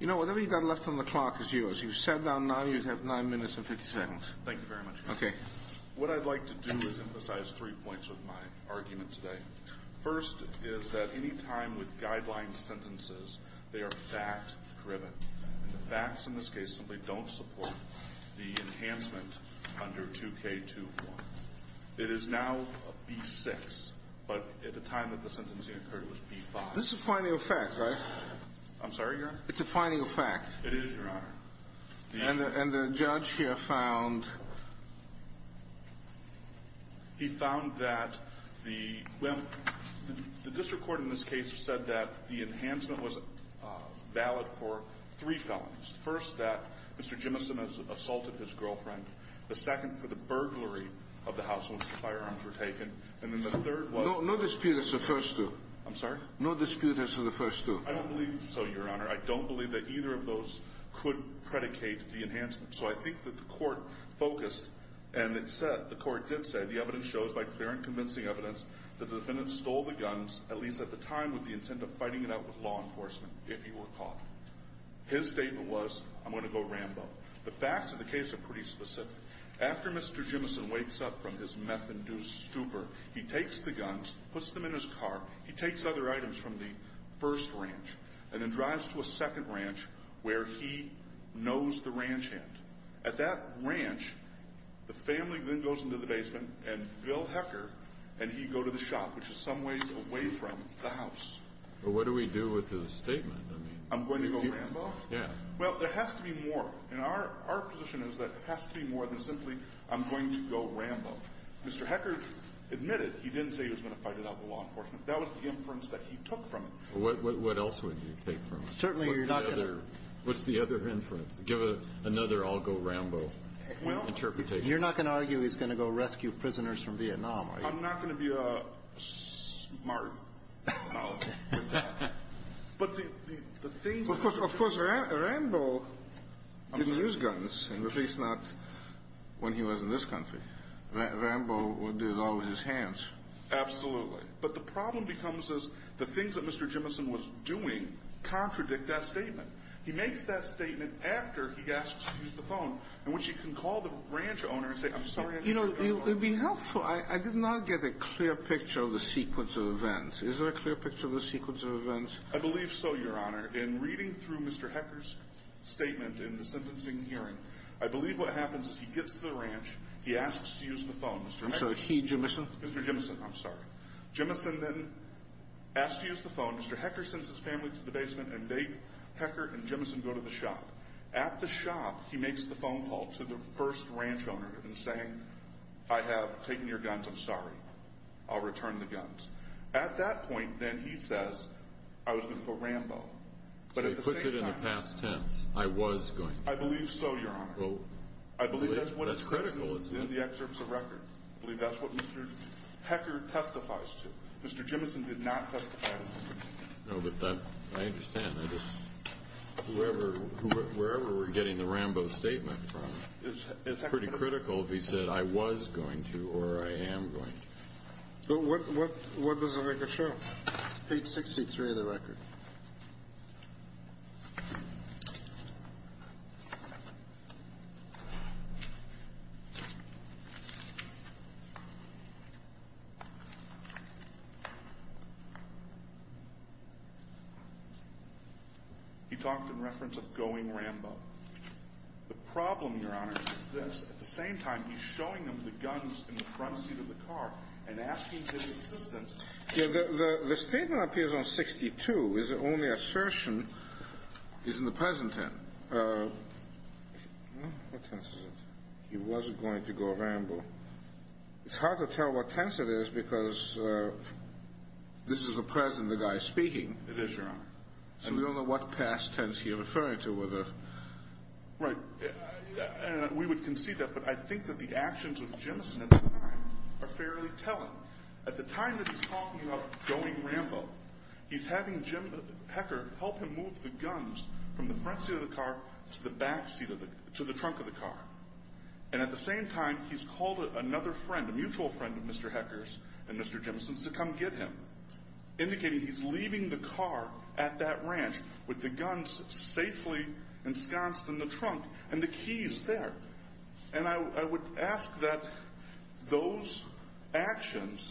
You know, whatever you got left on the clock is yours. You sat down now, you have 9 minutes and 50 seconds. Thank you very much. Okay. What I'd like to do is emphasize three points with my argument today. First is that any time with guideline sentences, they are fact driven. The facts in this case simply don't support the enhancement under 2K21. It is now a B6, but at the time that the sentencing occurred, it was B5. This is a final fact, right? I'm sorry, Your Honor? It's a final fact. It is, Your Honor. And the judge here found? He found that the, well, the district court in this case said that the enhancement was valid for three felons. First, that Mr. Jimison has assaulted his girlfriend. The second, for the burglary of the house where the firearms were taken. And then the third was? No dispute as to the first two. I'm sorry? No dispute as to the first two. I don't believe so, Your Honor. I don't believe that either of those could predicate the enhancement. So I think that the court focused and it said, the court did say, the evidence shows by clear and convincing evidence that the defendant stole the guns, at least at the time with the intent of fighting it out with law enforcement, if he were caught. His statement was, I'm going to go Rambo. The facts of the case are pretty specific. After Mr. Jimison wakes up from his meth-induced stupor, he takes the guns, puts them in his car, he takes other items from the first ranch, and then drives to a second ranch where he knows the ranch hand. At that ranch, the family then goes into the basement and Bill Hecker and he go to the shop, which is some ways away from the house. But what do we do with his statement? I'm going to go Rambo? Yeah. Well, there has to be more. And our position is that there has to be more than simply, I'm going to go Rambo. Mr. Hecker admitted he didn't say he was going to fight it out with law enforcement. That was the inference that he took from it. What else would you take from it? Certainly you're not going to What's the other inference? Give another I'll-go-Rambo interpretation. You're not going to argue he's going to go rescue prisoners from Vietnam, are you? I'm not going to be a smart mouth with that. But the things Of course, Rambo didn't use guns, at least not when he was in this country. Rambo did it all with his hands. Absolutely. But the problem becomes is the things that Mr. Jimmison was doing contradict that statement. He makes that statement after he asks to use the phone, in which he can call the ranch owner and say, I'm sorry, I didn't use the gun. You know, it would be helpful. I did not get a clear picture of the sequence of events. Is there a clear picture of the sequence of events? I believe so, Your Honor. In reading through Mr. Hecker's statement in the sentencing hearing, I believe what happens is he gets to the ranch, he asks to use the phone. And so he, Jimmison Mr. Jimmison, I'm sorry. Jimmison then asks to use the phone. Mr. Hecker sends his family to the basement and they, Hecker and Jimmison, go to the shop. At the shop, he makes the phone call to the first ranch owner and saying, I have taken your guns. I'm sorry. I'll return the guns. At that point, then he says, I was going to go Rambo. So he pushed it in the past tense. I was going to. I believe so, Your Honor. I believe that's what is critical in the excerpts of what Hecker testifies to. Mr. Jimmison did not testify to anything. No, but that, I understand. I just, whoever, wherever we're getting the Rambo statement from, it's pretty critical if he said, I was going to or I am going to. But what, what, what does the record show? Page 63 of the record. He talked in reference of going Rambo. The problem, Your Honor, is that at the same time, he's showing them the guns in the front seat of the car and asking for assistance. The statement appears on 62. His only assertion is in the present tense. What tense is it? He was going to go Rambo. It's hard to tell what tense it is because this is the present and the guy is speaking. It is, Your Honor. And we don't know what past tense he's referring to. Right. And we would concede that, but I think that the actions of Jimmison at the time are fairly telling. At the time that he's talking about going Rambo, he's having Jim, Hecker, help him move the guns from the front seat of the car to the back seat of the, to the trunk of the car. And at the same time, he's called another friend, a mutual friend of Mr. Hecker's and Mr. Jimmison's to come get him, indicating he's leaving the car at that ranch with the guns safely ensconced in the trunk and the keys there. And I would ask that those actions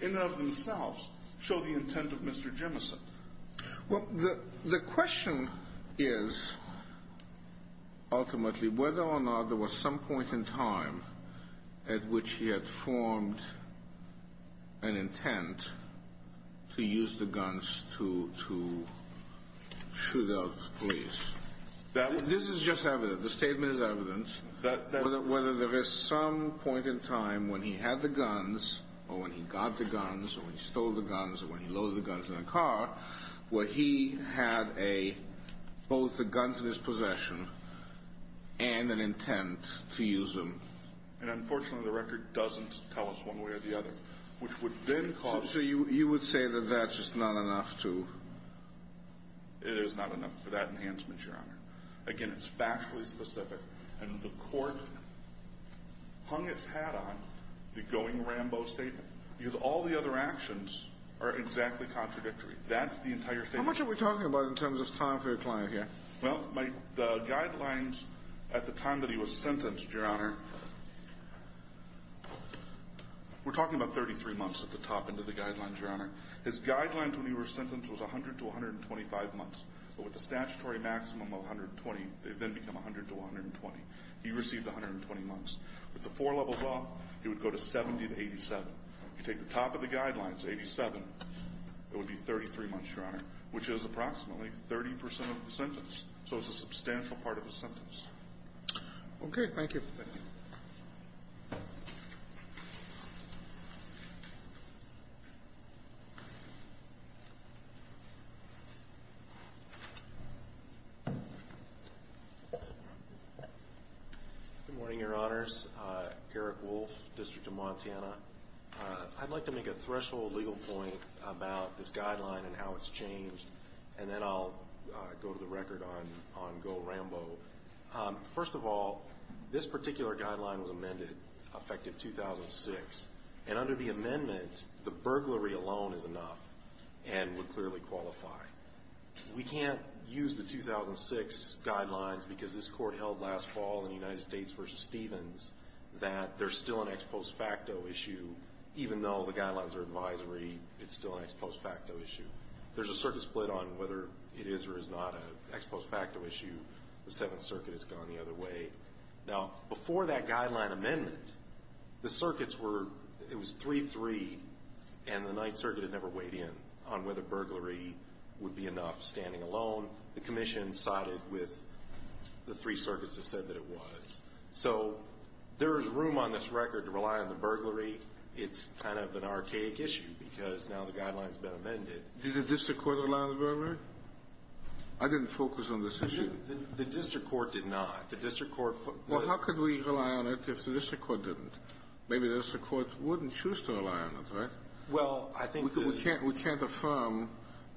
in and of themselves show the intent of Mr. Jimmison. Well, the question is ultimately whether or not there was some point in time at which he had formed an intent to use the guns to shoot out police. This is just evidence. The statement is evidence. Whether there was some point in time when he had the guns or when he got the guns or when he stole the guns or when he loaded the guns in the car, where he had both the guns in his possession and an intent to use them. And unfortunately, the record doesn't tell us one way or the other, which would then cause— So you would say that that's just not enough to— It is not enough for that enhancement, Your Honor. Again, it's factually specific. And the court hung its hat on the going Rambo statement. All the other actions are exactly contradictory. That's the entire statement. How much are we talking about in terms of time for your client here? Well, the guidelines at the time that he was sentenced, Your Honor, we're talking about 33 months at the top into the guidelines, Your Honor. His guidelines when he was sentenced was 100 to 125 months. But with the statutory maximum of 120, they then become 100 to 120. He received 120 months. With the four levels off, he would go to 70 to 87. If you take the top of the guidelines, 87, it would be 33 months, Your Honor, which is approximately 30% of the sentence. So it's a substantial part of his sentence. Okay. Thank you. Thank you. Good morning, Your Honors. Eric Wolf, District of Montana. I'd like to make a threshold legal point about this guideline and how it's changed, and then I'll go to the record on go Rambo. First of all, this particular guideline was amended effective 2006, and under the amendment, the burglary alone is enough and would clearly qualify. We can't use the 2006 guidelines because this court held last fall in the United States versus Stevens that there's still an ex post facto issue, even though the guidelines are advisory, it's still an ex post facto issue. There's a circuit split on whether it is or is not an ex post facto issue. The Seventh Circuit has gone the other way. Now, before that guideline amendment, the circuits were, it was 3-3, and the Ninth Circuit had never weighed in on whether burglary would be enough standing alone. The commission sided with the three circuits that said that it was. So there is room on this record to rely on the burglary. It's kind of an archaic issue because now the guideline has been amended. Did the district court rely on the burglary? I didn't focus on this issue. The district court did not. The district court. Well, how could we rely on it if the district court didn't? Maybe the district court wouldn't choose to rely on it, right? Well, I think that. We can't affirm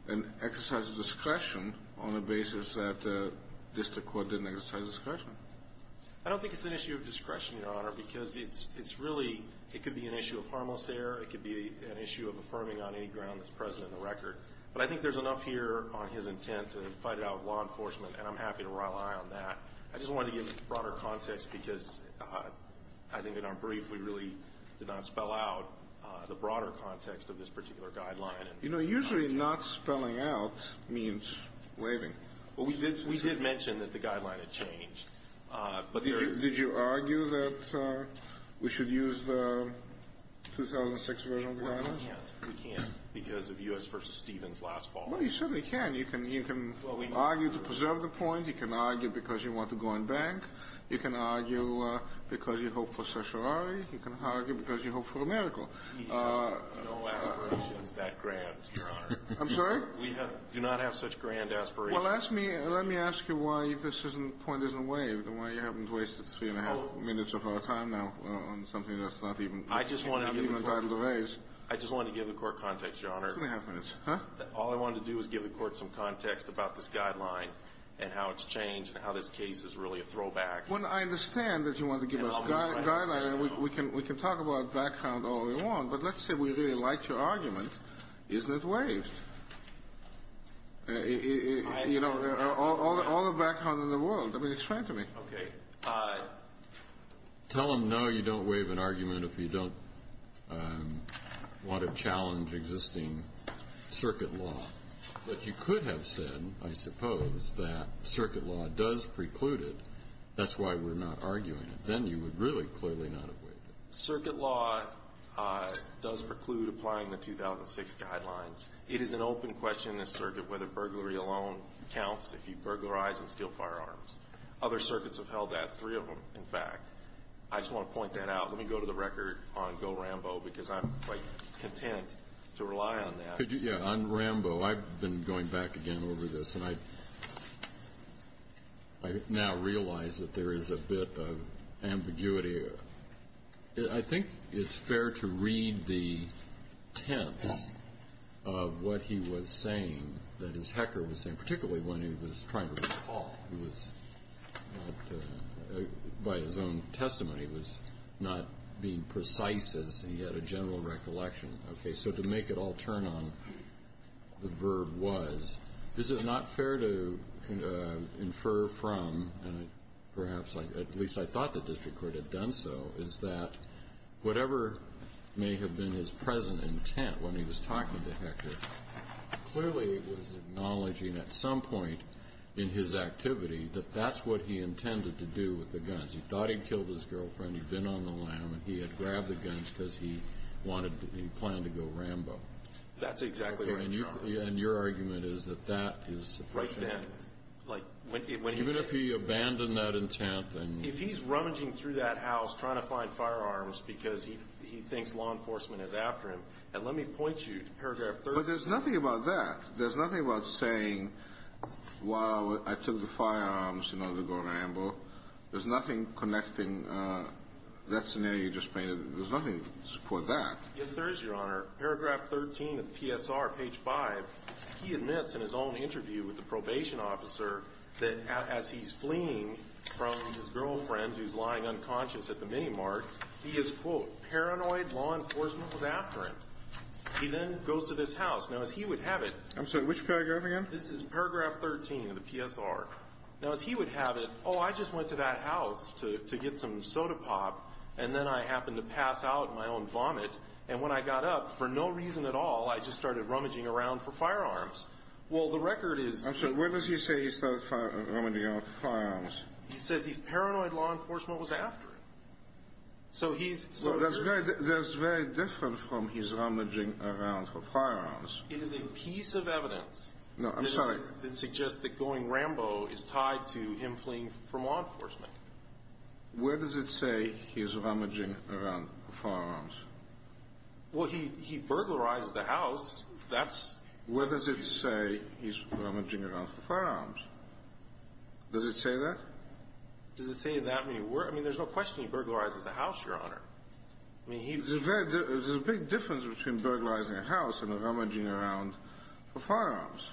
and exercise discretion on the basis that the district court didn't exercise discretion. I don't think it's an issue of discretion, Your Honor, because it's really, it could be an issue of harmless error. It could be an issue of affirming on any ground that's present in the record. But I think there's enough here on his intent to fight it out with law enforcement, and I'm happy to rely on that. I just wanted to give broader context because I think in our brief, we really did not spell out the broader context of this particular guideline. You know, usually not spelling out means waiving. Well, we did mention that the guideline had changed. Did you argue that we should use the 2006 version of the guideline? We can't because of U.S. v. Stevens last fall. Well, you certainly can. You can argue to preserve the point. You can argue because you want to go in bank. You can argue because you hope for certiorari. You can argue because you hope for a miracle. We have no aspirations that grand, Your Honor. I'm sorry? We do not have such grand aspirations. Well, let me ask you why this point isn't waived and why you haven't wasted three and a half minutes of our time now on something that's not even entitled to raise. I just wanted to give the Court context, Your Honor. Two and a half minutes. All I wanted to do was give the Court some context about this guideline and how it's changed and how this case is really a throwback. Well, I understand that you want to give us a guideline. We can talk about background all we want. But let's say we really like your argument. Isn't it waived? You know, all the background in the world. I mean, explain it to me. Okay. Tell them, no, you don't waive an argument if you don't want to challenge existing circuit law. But you could have said, I suppose, that circuit law does preclude it. That's why we're not arguing it. Then you would really clearly not have waived it. Circuit law does preclude applying the 2006 guidelines. It is an open question in this circuit whether burglary alone counts if you burglarize and steal firearms. Other circuits have held that, three of them, in fact. I just want to point that out. Let me go to the record on Go Rambo because I'm, like, content to rely on that. Yeah, on Rambo, I've been going back again over this, and I now realize that there is a bit of ambiguity here. I think it's fair to read the tense of what he was saying, that his hacker was saying, particularly when he was trying to recall. He was not, by his own testimony, was not being precise as he had a general recollection. Okay. So to make it all turn on, the verb was. This is not fair to infer from, and perhaps at least I thought the district court had done so, is that whatever may have been his present intent when he was talking to Hector, clearly it was acknowledging at some point in his activity that that's what he intended to do with the guns. He thought he'd killed his girlfriend. He'd been on the lam, and he had grabbed the guns because he planned to go Rambo. That's exactly right, Your Honor. Okay, and your argument is that that is sufficient. Right then. Even if he abandoned that intent and... If he's rummaging through that house trying to find firearms because he thinks law enforcement is after him, and let me point you to paragraph 13. But there's nothing about that. There's nothing about saying, wow, I took the firearms in order to go Rambo. There's nothing connecting that scenario you just painted. There's nothing to support that. Yes, there is, Your Honor. Paragraph 13 of PSR, page 5, he admits in his own interview with the probation officer that as he's fleeing from his girlfriend who's lying unconscious at the minimart, he is, quote, paranoid law enforcement was after him. He then goes to this house. Now, as he would have it... I'm sorry, which paragraph again? This is paragraph 13 of the PSR. Now, as he would have it, oh, I just went to that house to get some soda pop, and then I happened to pass out in my own vomit, and when I got up, for no reason at all, I just started rummaging around for firearms. Well, the record is... I'm sorry, what does he say he started rummaging around for firearms? He says he's paranoid law enforcement was after him. So he's... Well, that's very different from he's rummaging around for firearms. It is a piece of evidence... No, I'm sorry.... that suggests that going Rambo is tied to him fleeing from law enforcement. Where does it say he's rummaging around for firearms? Well, he burglarizes the house. Where does it say he's rummaging around for firearms? Does it say that? Does it say that? I mean, there's no question he burglarizes the house, Your Honor. I mean, he... There's a big difference between burglarizing a house and rummaging around for firearms.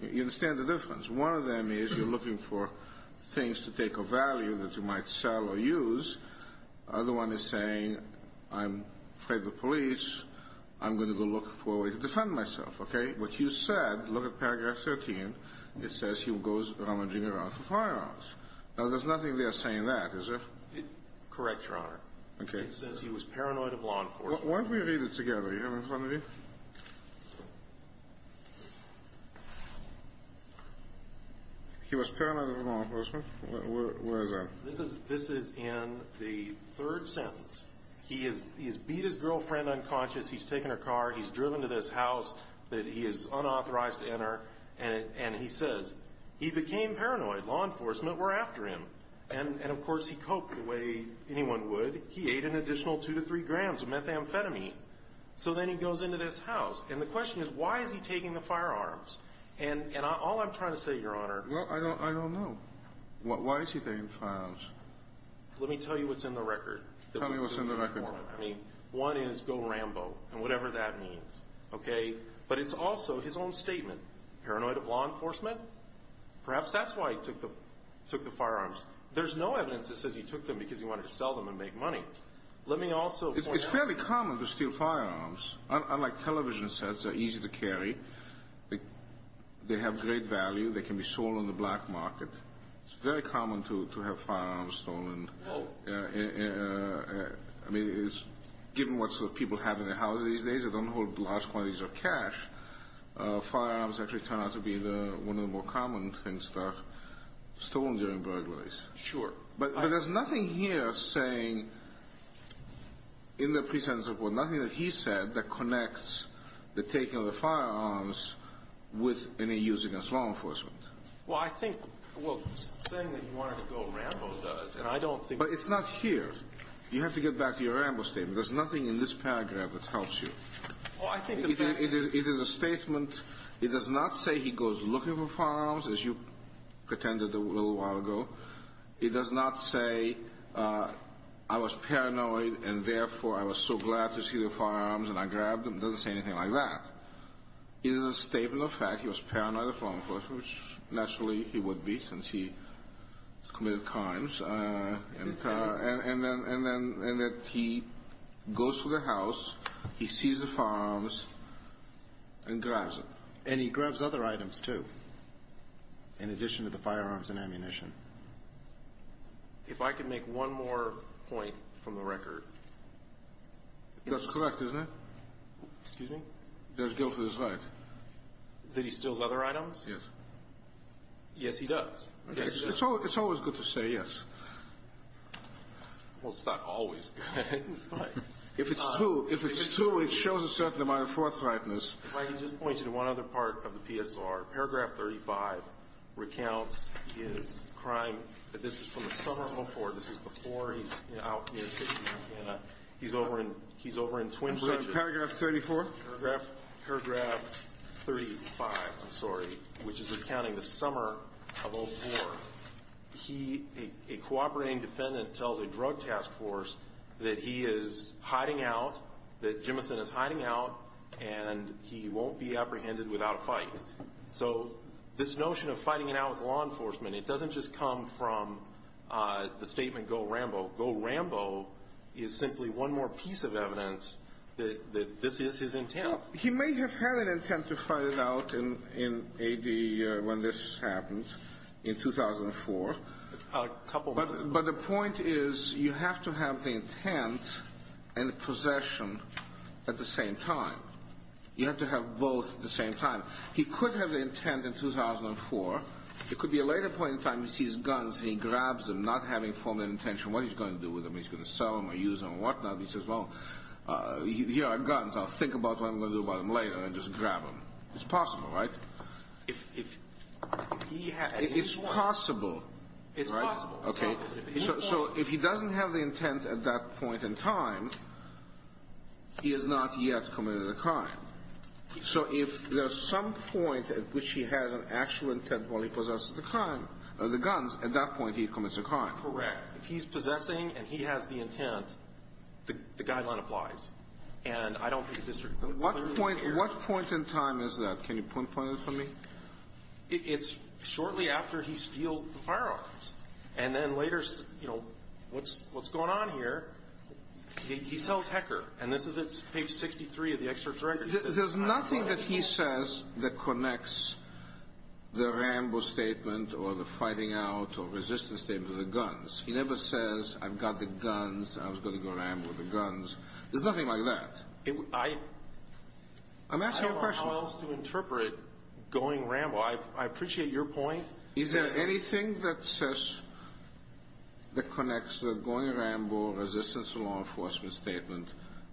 You understand the difference? One of them is you're looking for things to take a value that you might sell or use. The other one is saying I'm afraid of the police. I'm going to go look for a way to defend myself, okay? What you said, look at paragraph 13. It says he goes rummaging around for firearms. Now, there's nothing there saying that, is there? Correct, Your Honor. Okay. It says he was paranoid of law enforcement. Why don't we read it together? Do you have it in front of you? He was paranoid of law enforcement. Where is that? This is in the third sentence. He has beat his girlfriend unconscious. He's taken her car. He's driven to this house that he is unauthorized to enter. And he says he became paranoid. Law enforcement were after him. And, of course, he coped the way anyone would. He ate an additional two to three grams of methamphetamine. So then he goes into this house. And the question is why is he taking the firearms? And all I'm trying to say, Your Honor... Well, I don't know. Why is he taking firearms? Let me tell you what's in the record. Tell me what's in the record. I mean, one is go Rambo and whatever that means. Okay? But it's also his own statement. Paranoid of law enforcement? Perhaps that's why he took the firearms. There's no evidence that says he took them because he wanted to sell them and make money. Let me also point out... It's fairly common to steal firearms. Unlike television sets, they're easy to carry. They have great value. They can be sold on the black market. It's very common to have firearms stolen. Well... I mean, given what sort of people have in their houses these days that don't hold large quantities of cash, firearms actually turn out to be one of the more common things that are stolen during burglaries. Sure. But there's nothing here saying in the presence of... nothing that he said that connects the taking of the firearms with any use against law enforcement. Well, I think... Well, saying that he wanted to go Rambo does, and I don't think... But it's not here. You have to get back to your Rambo statement. There's nothing in this paragraph that helps you. Well, I think... It is a statement. It does not say he goes looking for firearms, as you pretended a little while ago. It does not say, I was paranoid, and therefore I was so glad to see the firearms and I grabbed them. It doesn't say anything like that. It is a statement of fact. He was paranoid of law enforcement, which naturally he would be since he committed crimes. And then he goes to the house, he sees the firearms, and grabs them. And he grabs other items, too, in addition to the firearms and ammunition. If I could make one more point from the record... That's correct, isn't it? Excuse me? There's guilt to his right. That he steals other items? Yes. Yes, he does. It's always good to say yes. Well, it's not always good, but... If it's true, it shows a certain amount of forthrightness. If I could just point you to one other part of the PSR. Paragraph 35 recounts his crime. This is from the summer of 04. This is before he's out in the city of Montana. He's over in Twin Bridges. Paragraph 34? Paragraph 35, I'm sorry, which is recounting the summer of 04. He, a cooperating defendant, tells a drug task force that he is hiding out, that Jimmison is hiding out, and he won't be apprehended without a fight. So this notion of fighting it out with law enforcement, it doesn't just come from the statement, go Rambo. Go Rambo is simply one more piece of evidence that this is his intent. He may have had an intent to fight it out in AD when this happened in 2004. A couple months ago. But the point is you have to have the intent and the possession at the same time. You have to have both at the same time. He could have the intent in 2004. It could be a later point in time he sees guns and he grabs them, not having formal intention what he's going to do with them. He's going to sell them or use them or whatnot. He says, well, here are guns. I'll think about what I'm going to do about them later and just grab them. It's possible, right? It's possible. It's possible. So if he doesn't have the intent at that point in time, he has not yet committed a crime. So if there's some point at which he has an actual intent while he possesses the crime, the guns, at that point he commits a crime. Correct. If he's possessing and he has the intent, the guideline applies. And I don't think the district could clearly hear. What point in time is that? Can you pinpoint it for me? It's shortly after he steals the firearms. And then later, you know, what's going on here? He tells Hecker, and this is at page 63 of the excerpt's record. There's nothing that he says that connects the Rambo statement or the fighting out or resistance statement to the guns. He never says, I've got the guns, I was going to go Rambo with the guns. There's nothing like that. I'm asking a question. I don't know how else to interpret going Rambo. I appreciate your point. Is there anything that says, that connects the going Rambo, resistance law enforcement statement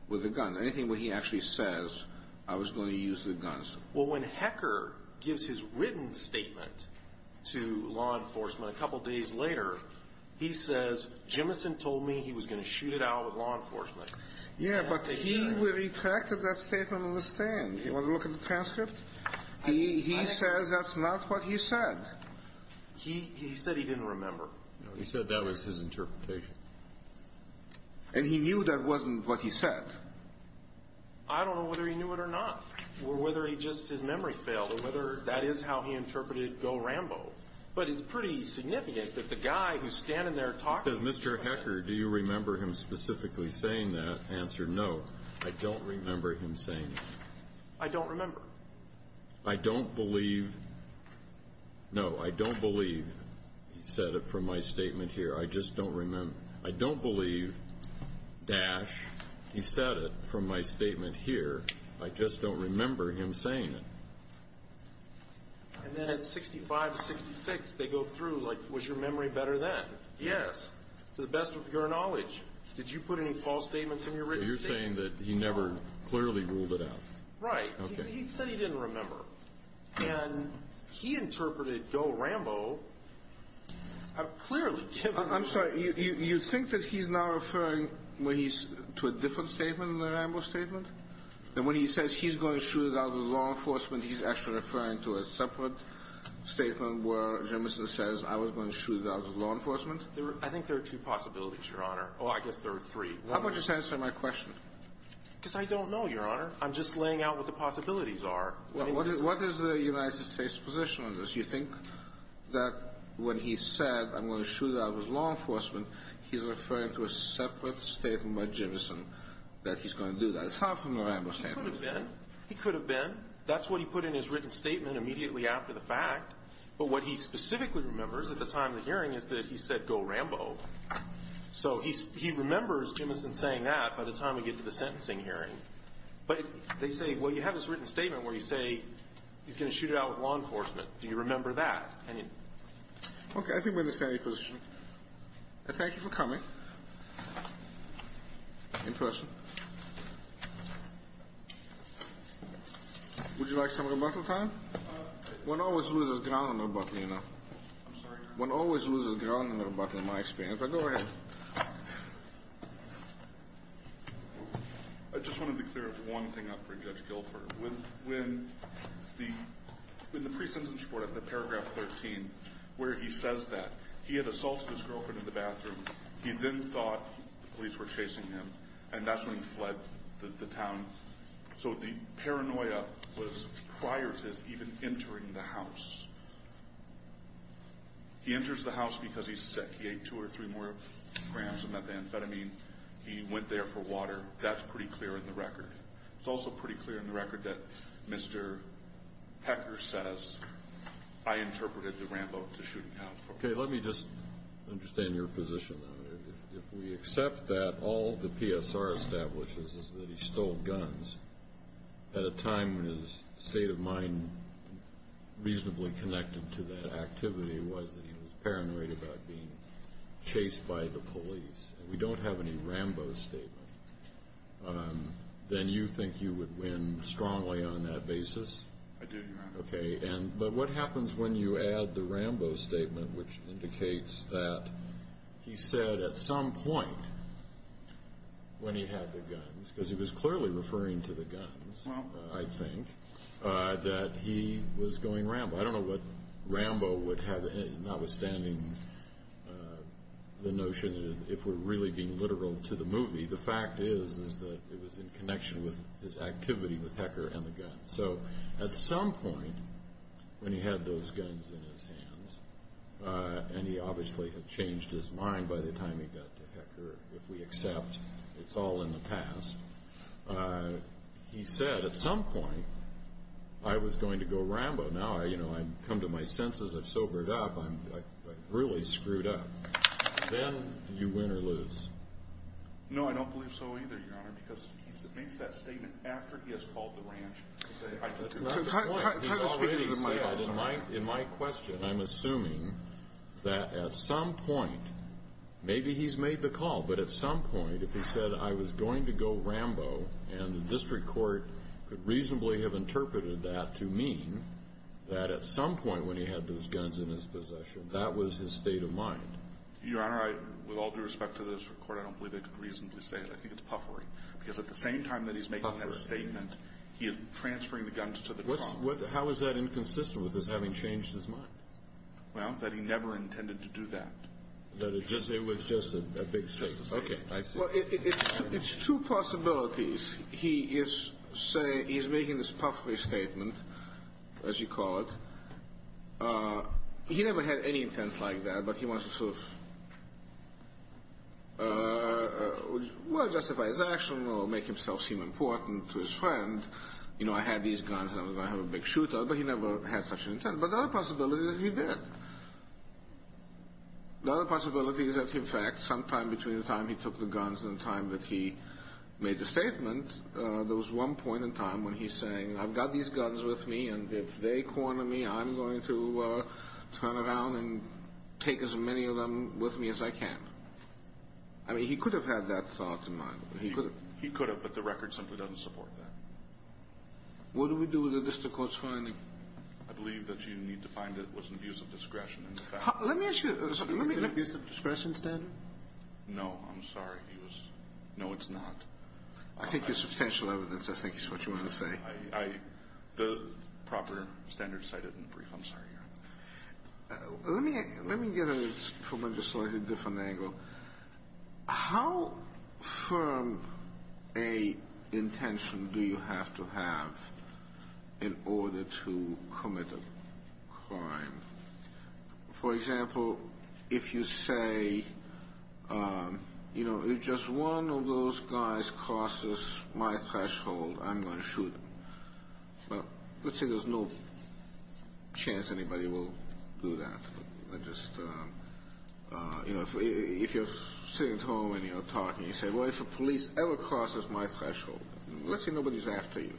with the guns? Anything where he actually says, I was going to use the guns? Well, when Hecker gives his written statement to law enforcement a couple days later, he says, Jimison told me he was going to shoot it out with law enforcement. Yeah, but he retracted that statement on the stand. You want to look at the transcript? He says that's not what he said. He said he didn't remember. No, he said that was his interpretation. And he knew that wasn't what he said. I don't know whether he knew it or not, or whether he just, his memory failed, or whether that is how he interpreted go Rambo. But it's pretty significant that the guy who's standing there talking. He says, Mr. Hecker, do you remember him specifically saying that? Answer, no. I don't remember him saying that. I don't remember. I don't believe, no, I don't believe he said it from my statement here. I just don't remember. I don't believe, Dash, he said it from my statement here. I just don't remember him saying it. And then at 65, 66, they go through, like, was your memory better then? Yes, to the best of your knowledge. Did you put any false statements in your written statement? So you're saying that he never clearly ruled it out. Right. Okay. He said he didn't remember. And he interpreted go Rambo clearly. I'm sorry. You think that he's now referring to a different statement than the Rambo statement? That when he says he's going to shoot it out of law enforcement, he's actually referring to a separate statement where Jim says, I was going to shoot it out of law enforcement? I think there are two possibilities, Your Honor. Oh, I guess there are three. How about you just answer my question? Because I don't know, Your Honor. I'm just laying out what the possibilities are. What is the United States' position on this? Do you think that when he said I'm going to shoot it out of law enforcement, he's referring to a separate statement by Jimmison that he's going to do that? It's not from the Rambo statement. It could have been. It could have been. That's what he put in his written statement immediately after the fact. But what he specifically remembers at the time of the hearing is that he said go Rambo. So he remembers Jimmison saying that by the time we get to the sentencing hearing. But they say, well, you have this written statement where you say he's going to shoot it out of law enforcement. Do you remember that? Okay, I think we understand your position. I thank you for coming in person. Would you like some rebuttal time? One always loses ground on rebuttal, you know. One always loses ground on rebuttal in my experience. Go ahead. I just want to be clear of one thing for Judge Guilford. When the pre-sentence report of the paragraph 13 where he says that he had assaulted his girlfriend in the bathroom, he then thought the police were chasing him, and that's when he fled the town. So the paranoia was prior to his even entering the house. He enters the house because he's sick. He ate two or three more grams of methamphetamine. He went there for water. That's pretty clear in the record. It's also pretty clear in the record that Mr. Hecker says, I interpreted the Rambo to shooting out. Okay, let me just understand your position. If we accept that all the PSR establishes is that he stole guns at a time when his state of mind reasonably connected to that activity was that he was paranoid about being chased by the police, and we don't have any Rambo statement, then you think you would win strongly on that basis? I do, Your Honor. Okay, but what happens when you add the Rambo statement, which indicates that he said at some point when he had the guns, because he was clearly referring to the guns, I think, that he was going Rambo. I don't know what Rambo would have, notwithstanding the notion that if we're really being literal to the movie, the fact is that it was in connection with his activity with Hecker and the guns. So at some point when he had those guns in his hands, and he obviously had changed his mind by the time he got to Hecker, if we accept it's all in the past, he said at some point, I was going to go Rambo. Now I've come to my senses. I've sobered up. I'm really screwed up. Then you win or lose. No, I don't believe so either, Your Honor, because he makes that statement after he has called the ranch. He already said in my question, I'm assuming that at some point, maybe he's made the call, but at some point if he said, I was going to go Rambo, and the district court could reasonably have interpreted that to mean that at some point when he had those guns in his possession, that was his state of mind. Your Honor, with all due respect to the district court, I don't believe they could reasonably say it. I think it's puffery, because at the same time that he's making that statement, he is transferring the guns to the trunk. How is that inconsistent with his having changed his mind? Well, that he never intended to do that. That it was just a big statement. Just a statement. Okay, I see. Well, it's two possibilities. He is making this puffery statement, as you call it. He never had any intent like that, but he wants to sort of justify his action or make himself seem important to his friend. You know, I had these guns and I was going to have a big shootout, but he never had such an intent. But the other possibility is he did. The other possibility is that, in fact, sometime between the time he took the guns and the time that he made the statement, there was one point in time when he's saying, I've got these guns with me, and if they corner me, I'm going to turn around and take as many of them with me as I can. I mean, he could have had that thought in mind. He could have, but the record simply doesn't support that. What do we do with the district court's finding? I believe that you need to find it was an abuse of discretion. Let me ask you something. Is it an abuse of discretion standard? No, I'm sorry. No, it's not. I think it's substantial evidence. I think it's what you want to say. The proper standard is cited in the brief. I'm sorry. Let me get from a slightly different angle. How firm an intention do you have to have in order to commit a crime? For example, if you say, you know, if just one of those guys crosses my threshold, I'm going to shoot him. Well, let's say there's no chance anybody will do that. I just, you know, if you're sitting at home and you're talking, you say, well, if a police ever crosses my threshold, let's say nobody's after you,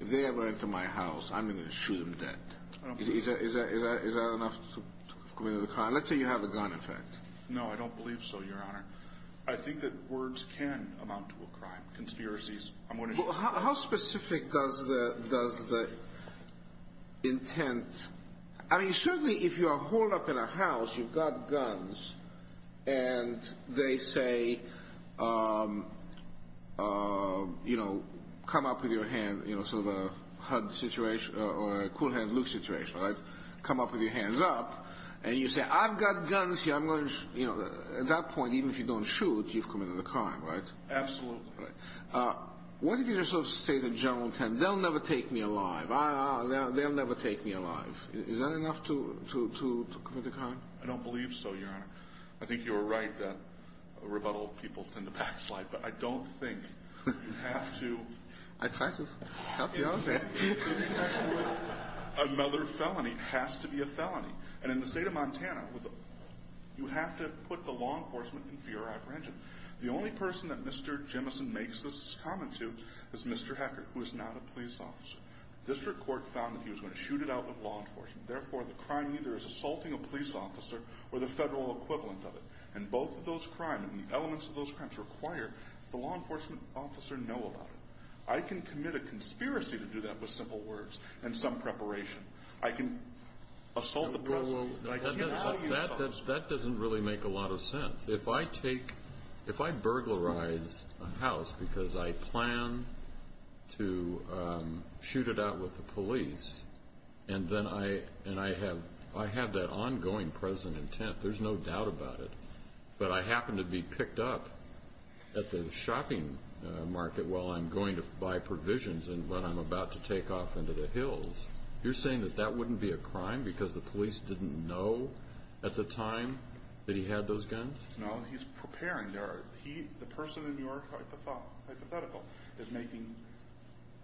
if they ever enter my house, I'm going to shoot them dead. Is that enough to commit a crime? Let's say you have a gun, in fact. No, I don't believe so, Your Honor. I think that words can amount to a crime. Conspiracies, I'm going to shoot somebody. How specific does the intent? I mean, certainly if you're holed up in a house, you've got guns, and they say, you know, come up with your hand, you know, sort of a HUD situation or a cool hand look situation, right? Come up with your hands up, and you say, I've got guns here. I'm going to, you know, at that point, even if you don't shoot, you've committed a crime, right? Absolutely. What if you just sort of state a general intent? They'll never take me alive. They'll never take me alive. Is that enough to commit a crime? I don't believe so, Your Honor. I think you were right that rebuttal people tend to backslide, but I don't think you have to. I tried to help you out there. Another felony has to be a felony. And in the state of Montana, you have to put the law enforcement in fear or apprehension. The only person that Mr. Jemison makes this comment to is Mr. Hecker, who is not a police officer. The district court found that he was going to shoot it out with law enforcement. Therefore, the crime either is assaulting a police officer or the federal equivalent of it. And both of those crimes and elements of those crimes require the law enforcement officer to know about it. I can commit a conspiracy to do that with simple words and some preparation. I can assault the president. That doesn't really make a lot of sense. If I take, if I burglarize a house because I plan to shoot it out with the police, and then I have that ongoing present intent, there's no doubt about it, but I happen to be picked up at the shopping market while I'm going to buy provisions and when I'm about to take off into the hills, you're saying that that wouldn't be a crime because the police didn't know at the time that he had those guns? No, he's preparing. The person in your hypothetical is making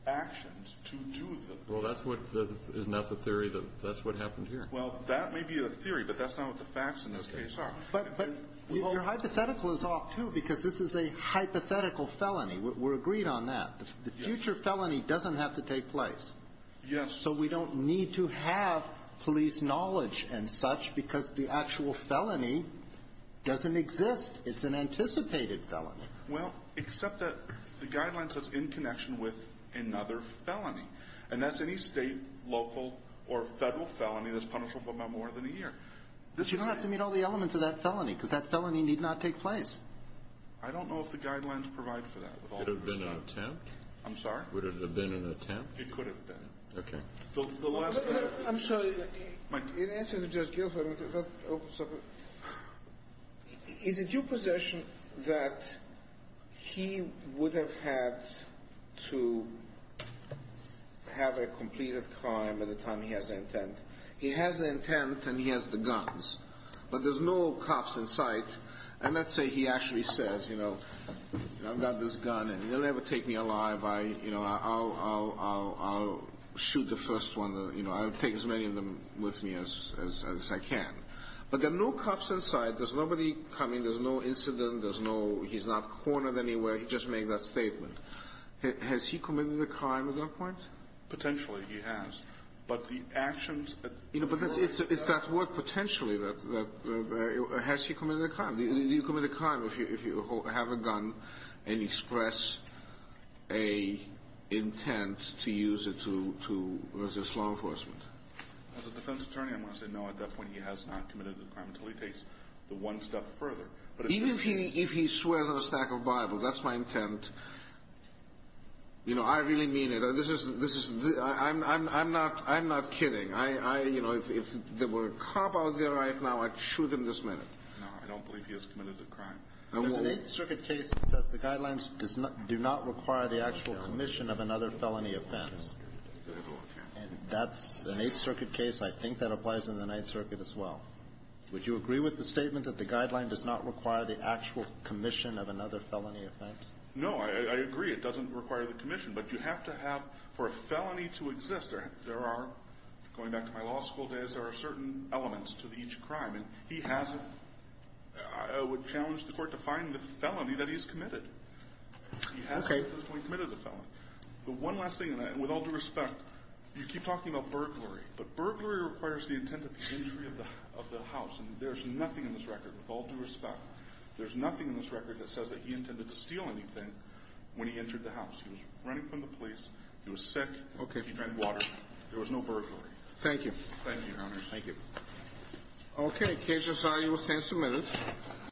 actions to do that. Well, isn't that the theory that that's what happened here? Well, that may be a theory, but that's not what the facts in this case are. But your hypothetical is off, too, because this is a hypothetical felony. We're agreed on that. The future felony doesn't have to take place. Yes. So we don't need to have police knowledge and such because the actual felony doesn't exist. It's an anticipated felony. Well, except that the guidelines are in connection with another felony, and that's any state, local, or federal felony that's punishable by more than a year. But you don't have to meet all the elements of that felony because that felony need not take place. I don't know if the guidelines provide for that. Would it have been an attempt? I'm sorry? Would it have been an attempt? It could have been. Okay. I'm sorry. In answer to Judge Gilford, is it your position that he would have had to have a completed crime at the time he has the intent? He has the intent and he has the guns, but there's no cops in sight. And let's say he actually says, you know, I've got this gun and they'll never take me alive. I'll shoot the first one. I'll take as many of them with me as I can. But there are no cops in sight. There's nobody coming. There's no incident. There's no he's not cornered anywhere. He just made that statement. Has he committed a crime at that point? Potentially, he has. But the actions at the time. Has he committed a crime? Do you commit a crime if you have a gun and express an intent to use it to resist law enforcement? As a defense attorney, I'm going to say no. At that point, he has not committed a crime until he takes the one step further. Even if he swears on a stack of Bibles, that's my intent. You know, I really mean it. I'm not kidding. You know, if there were a cop out there right now, I'd shoot him this minute. No, I don't believe he has committed a crime. There's an Eighth Circuit case that says the guidelines do not require the actual commission of another felony offense. And that's an Eighth Circuit case. I think that applies in the Ninth Circuit as well. Would you agree with the statement that the guideline does not require the actual commission of another felony offense? No, I agree. It doesn't require the commission. But you have to have, for a felony to exist, there are, going back to my law school days, there are certain elements to each crime. And he hasn't. I would challenge the court to find the felony that he's committed. He hasn't at this point committed a felony. The one last thing, and with all due respect, you keep talking about burglary. But burglary requires the intent of the entry of the house. And there's nothing in this record, with all due respect, there's nothing in this record that says that he intended to steal anything when he entered the house. He was running from the police. He was sick. He drank water. There was no burglary. Thank you. Thank you, Your Honor. Thank you. Okay. Case is signed. You will stand submitted.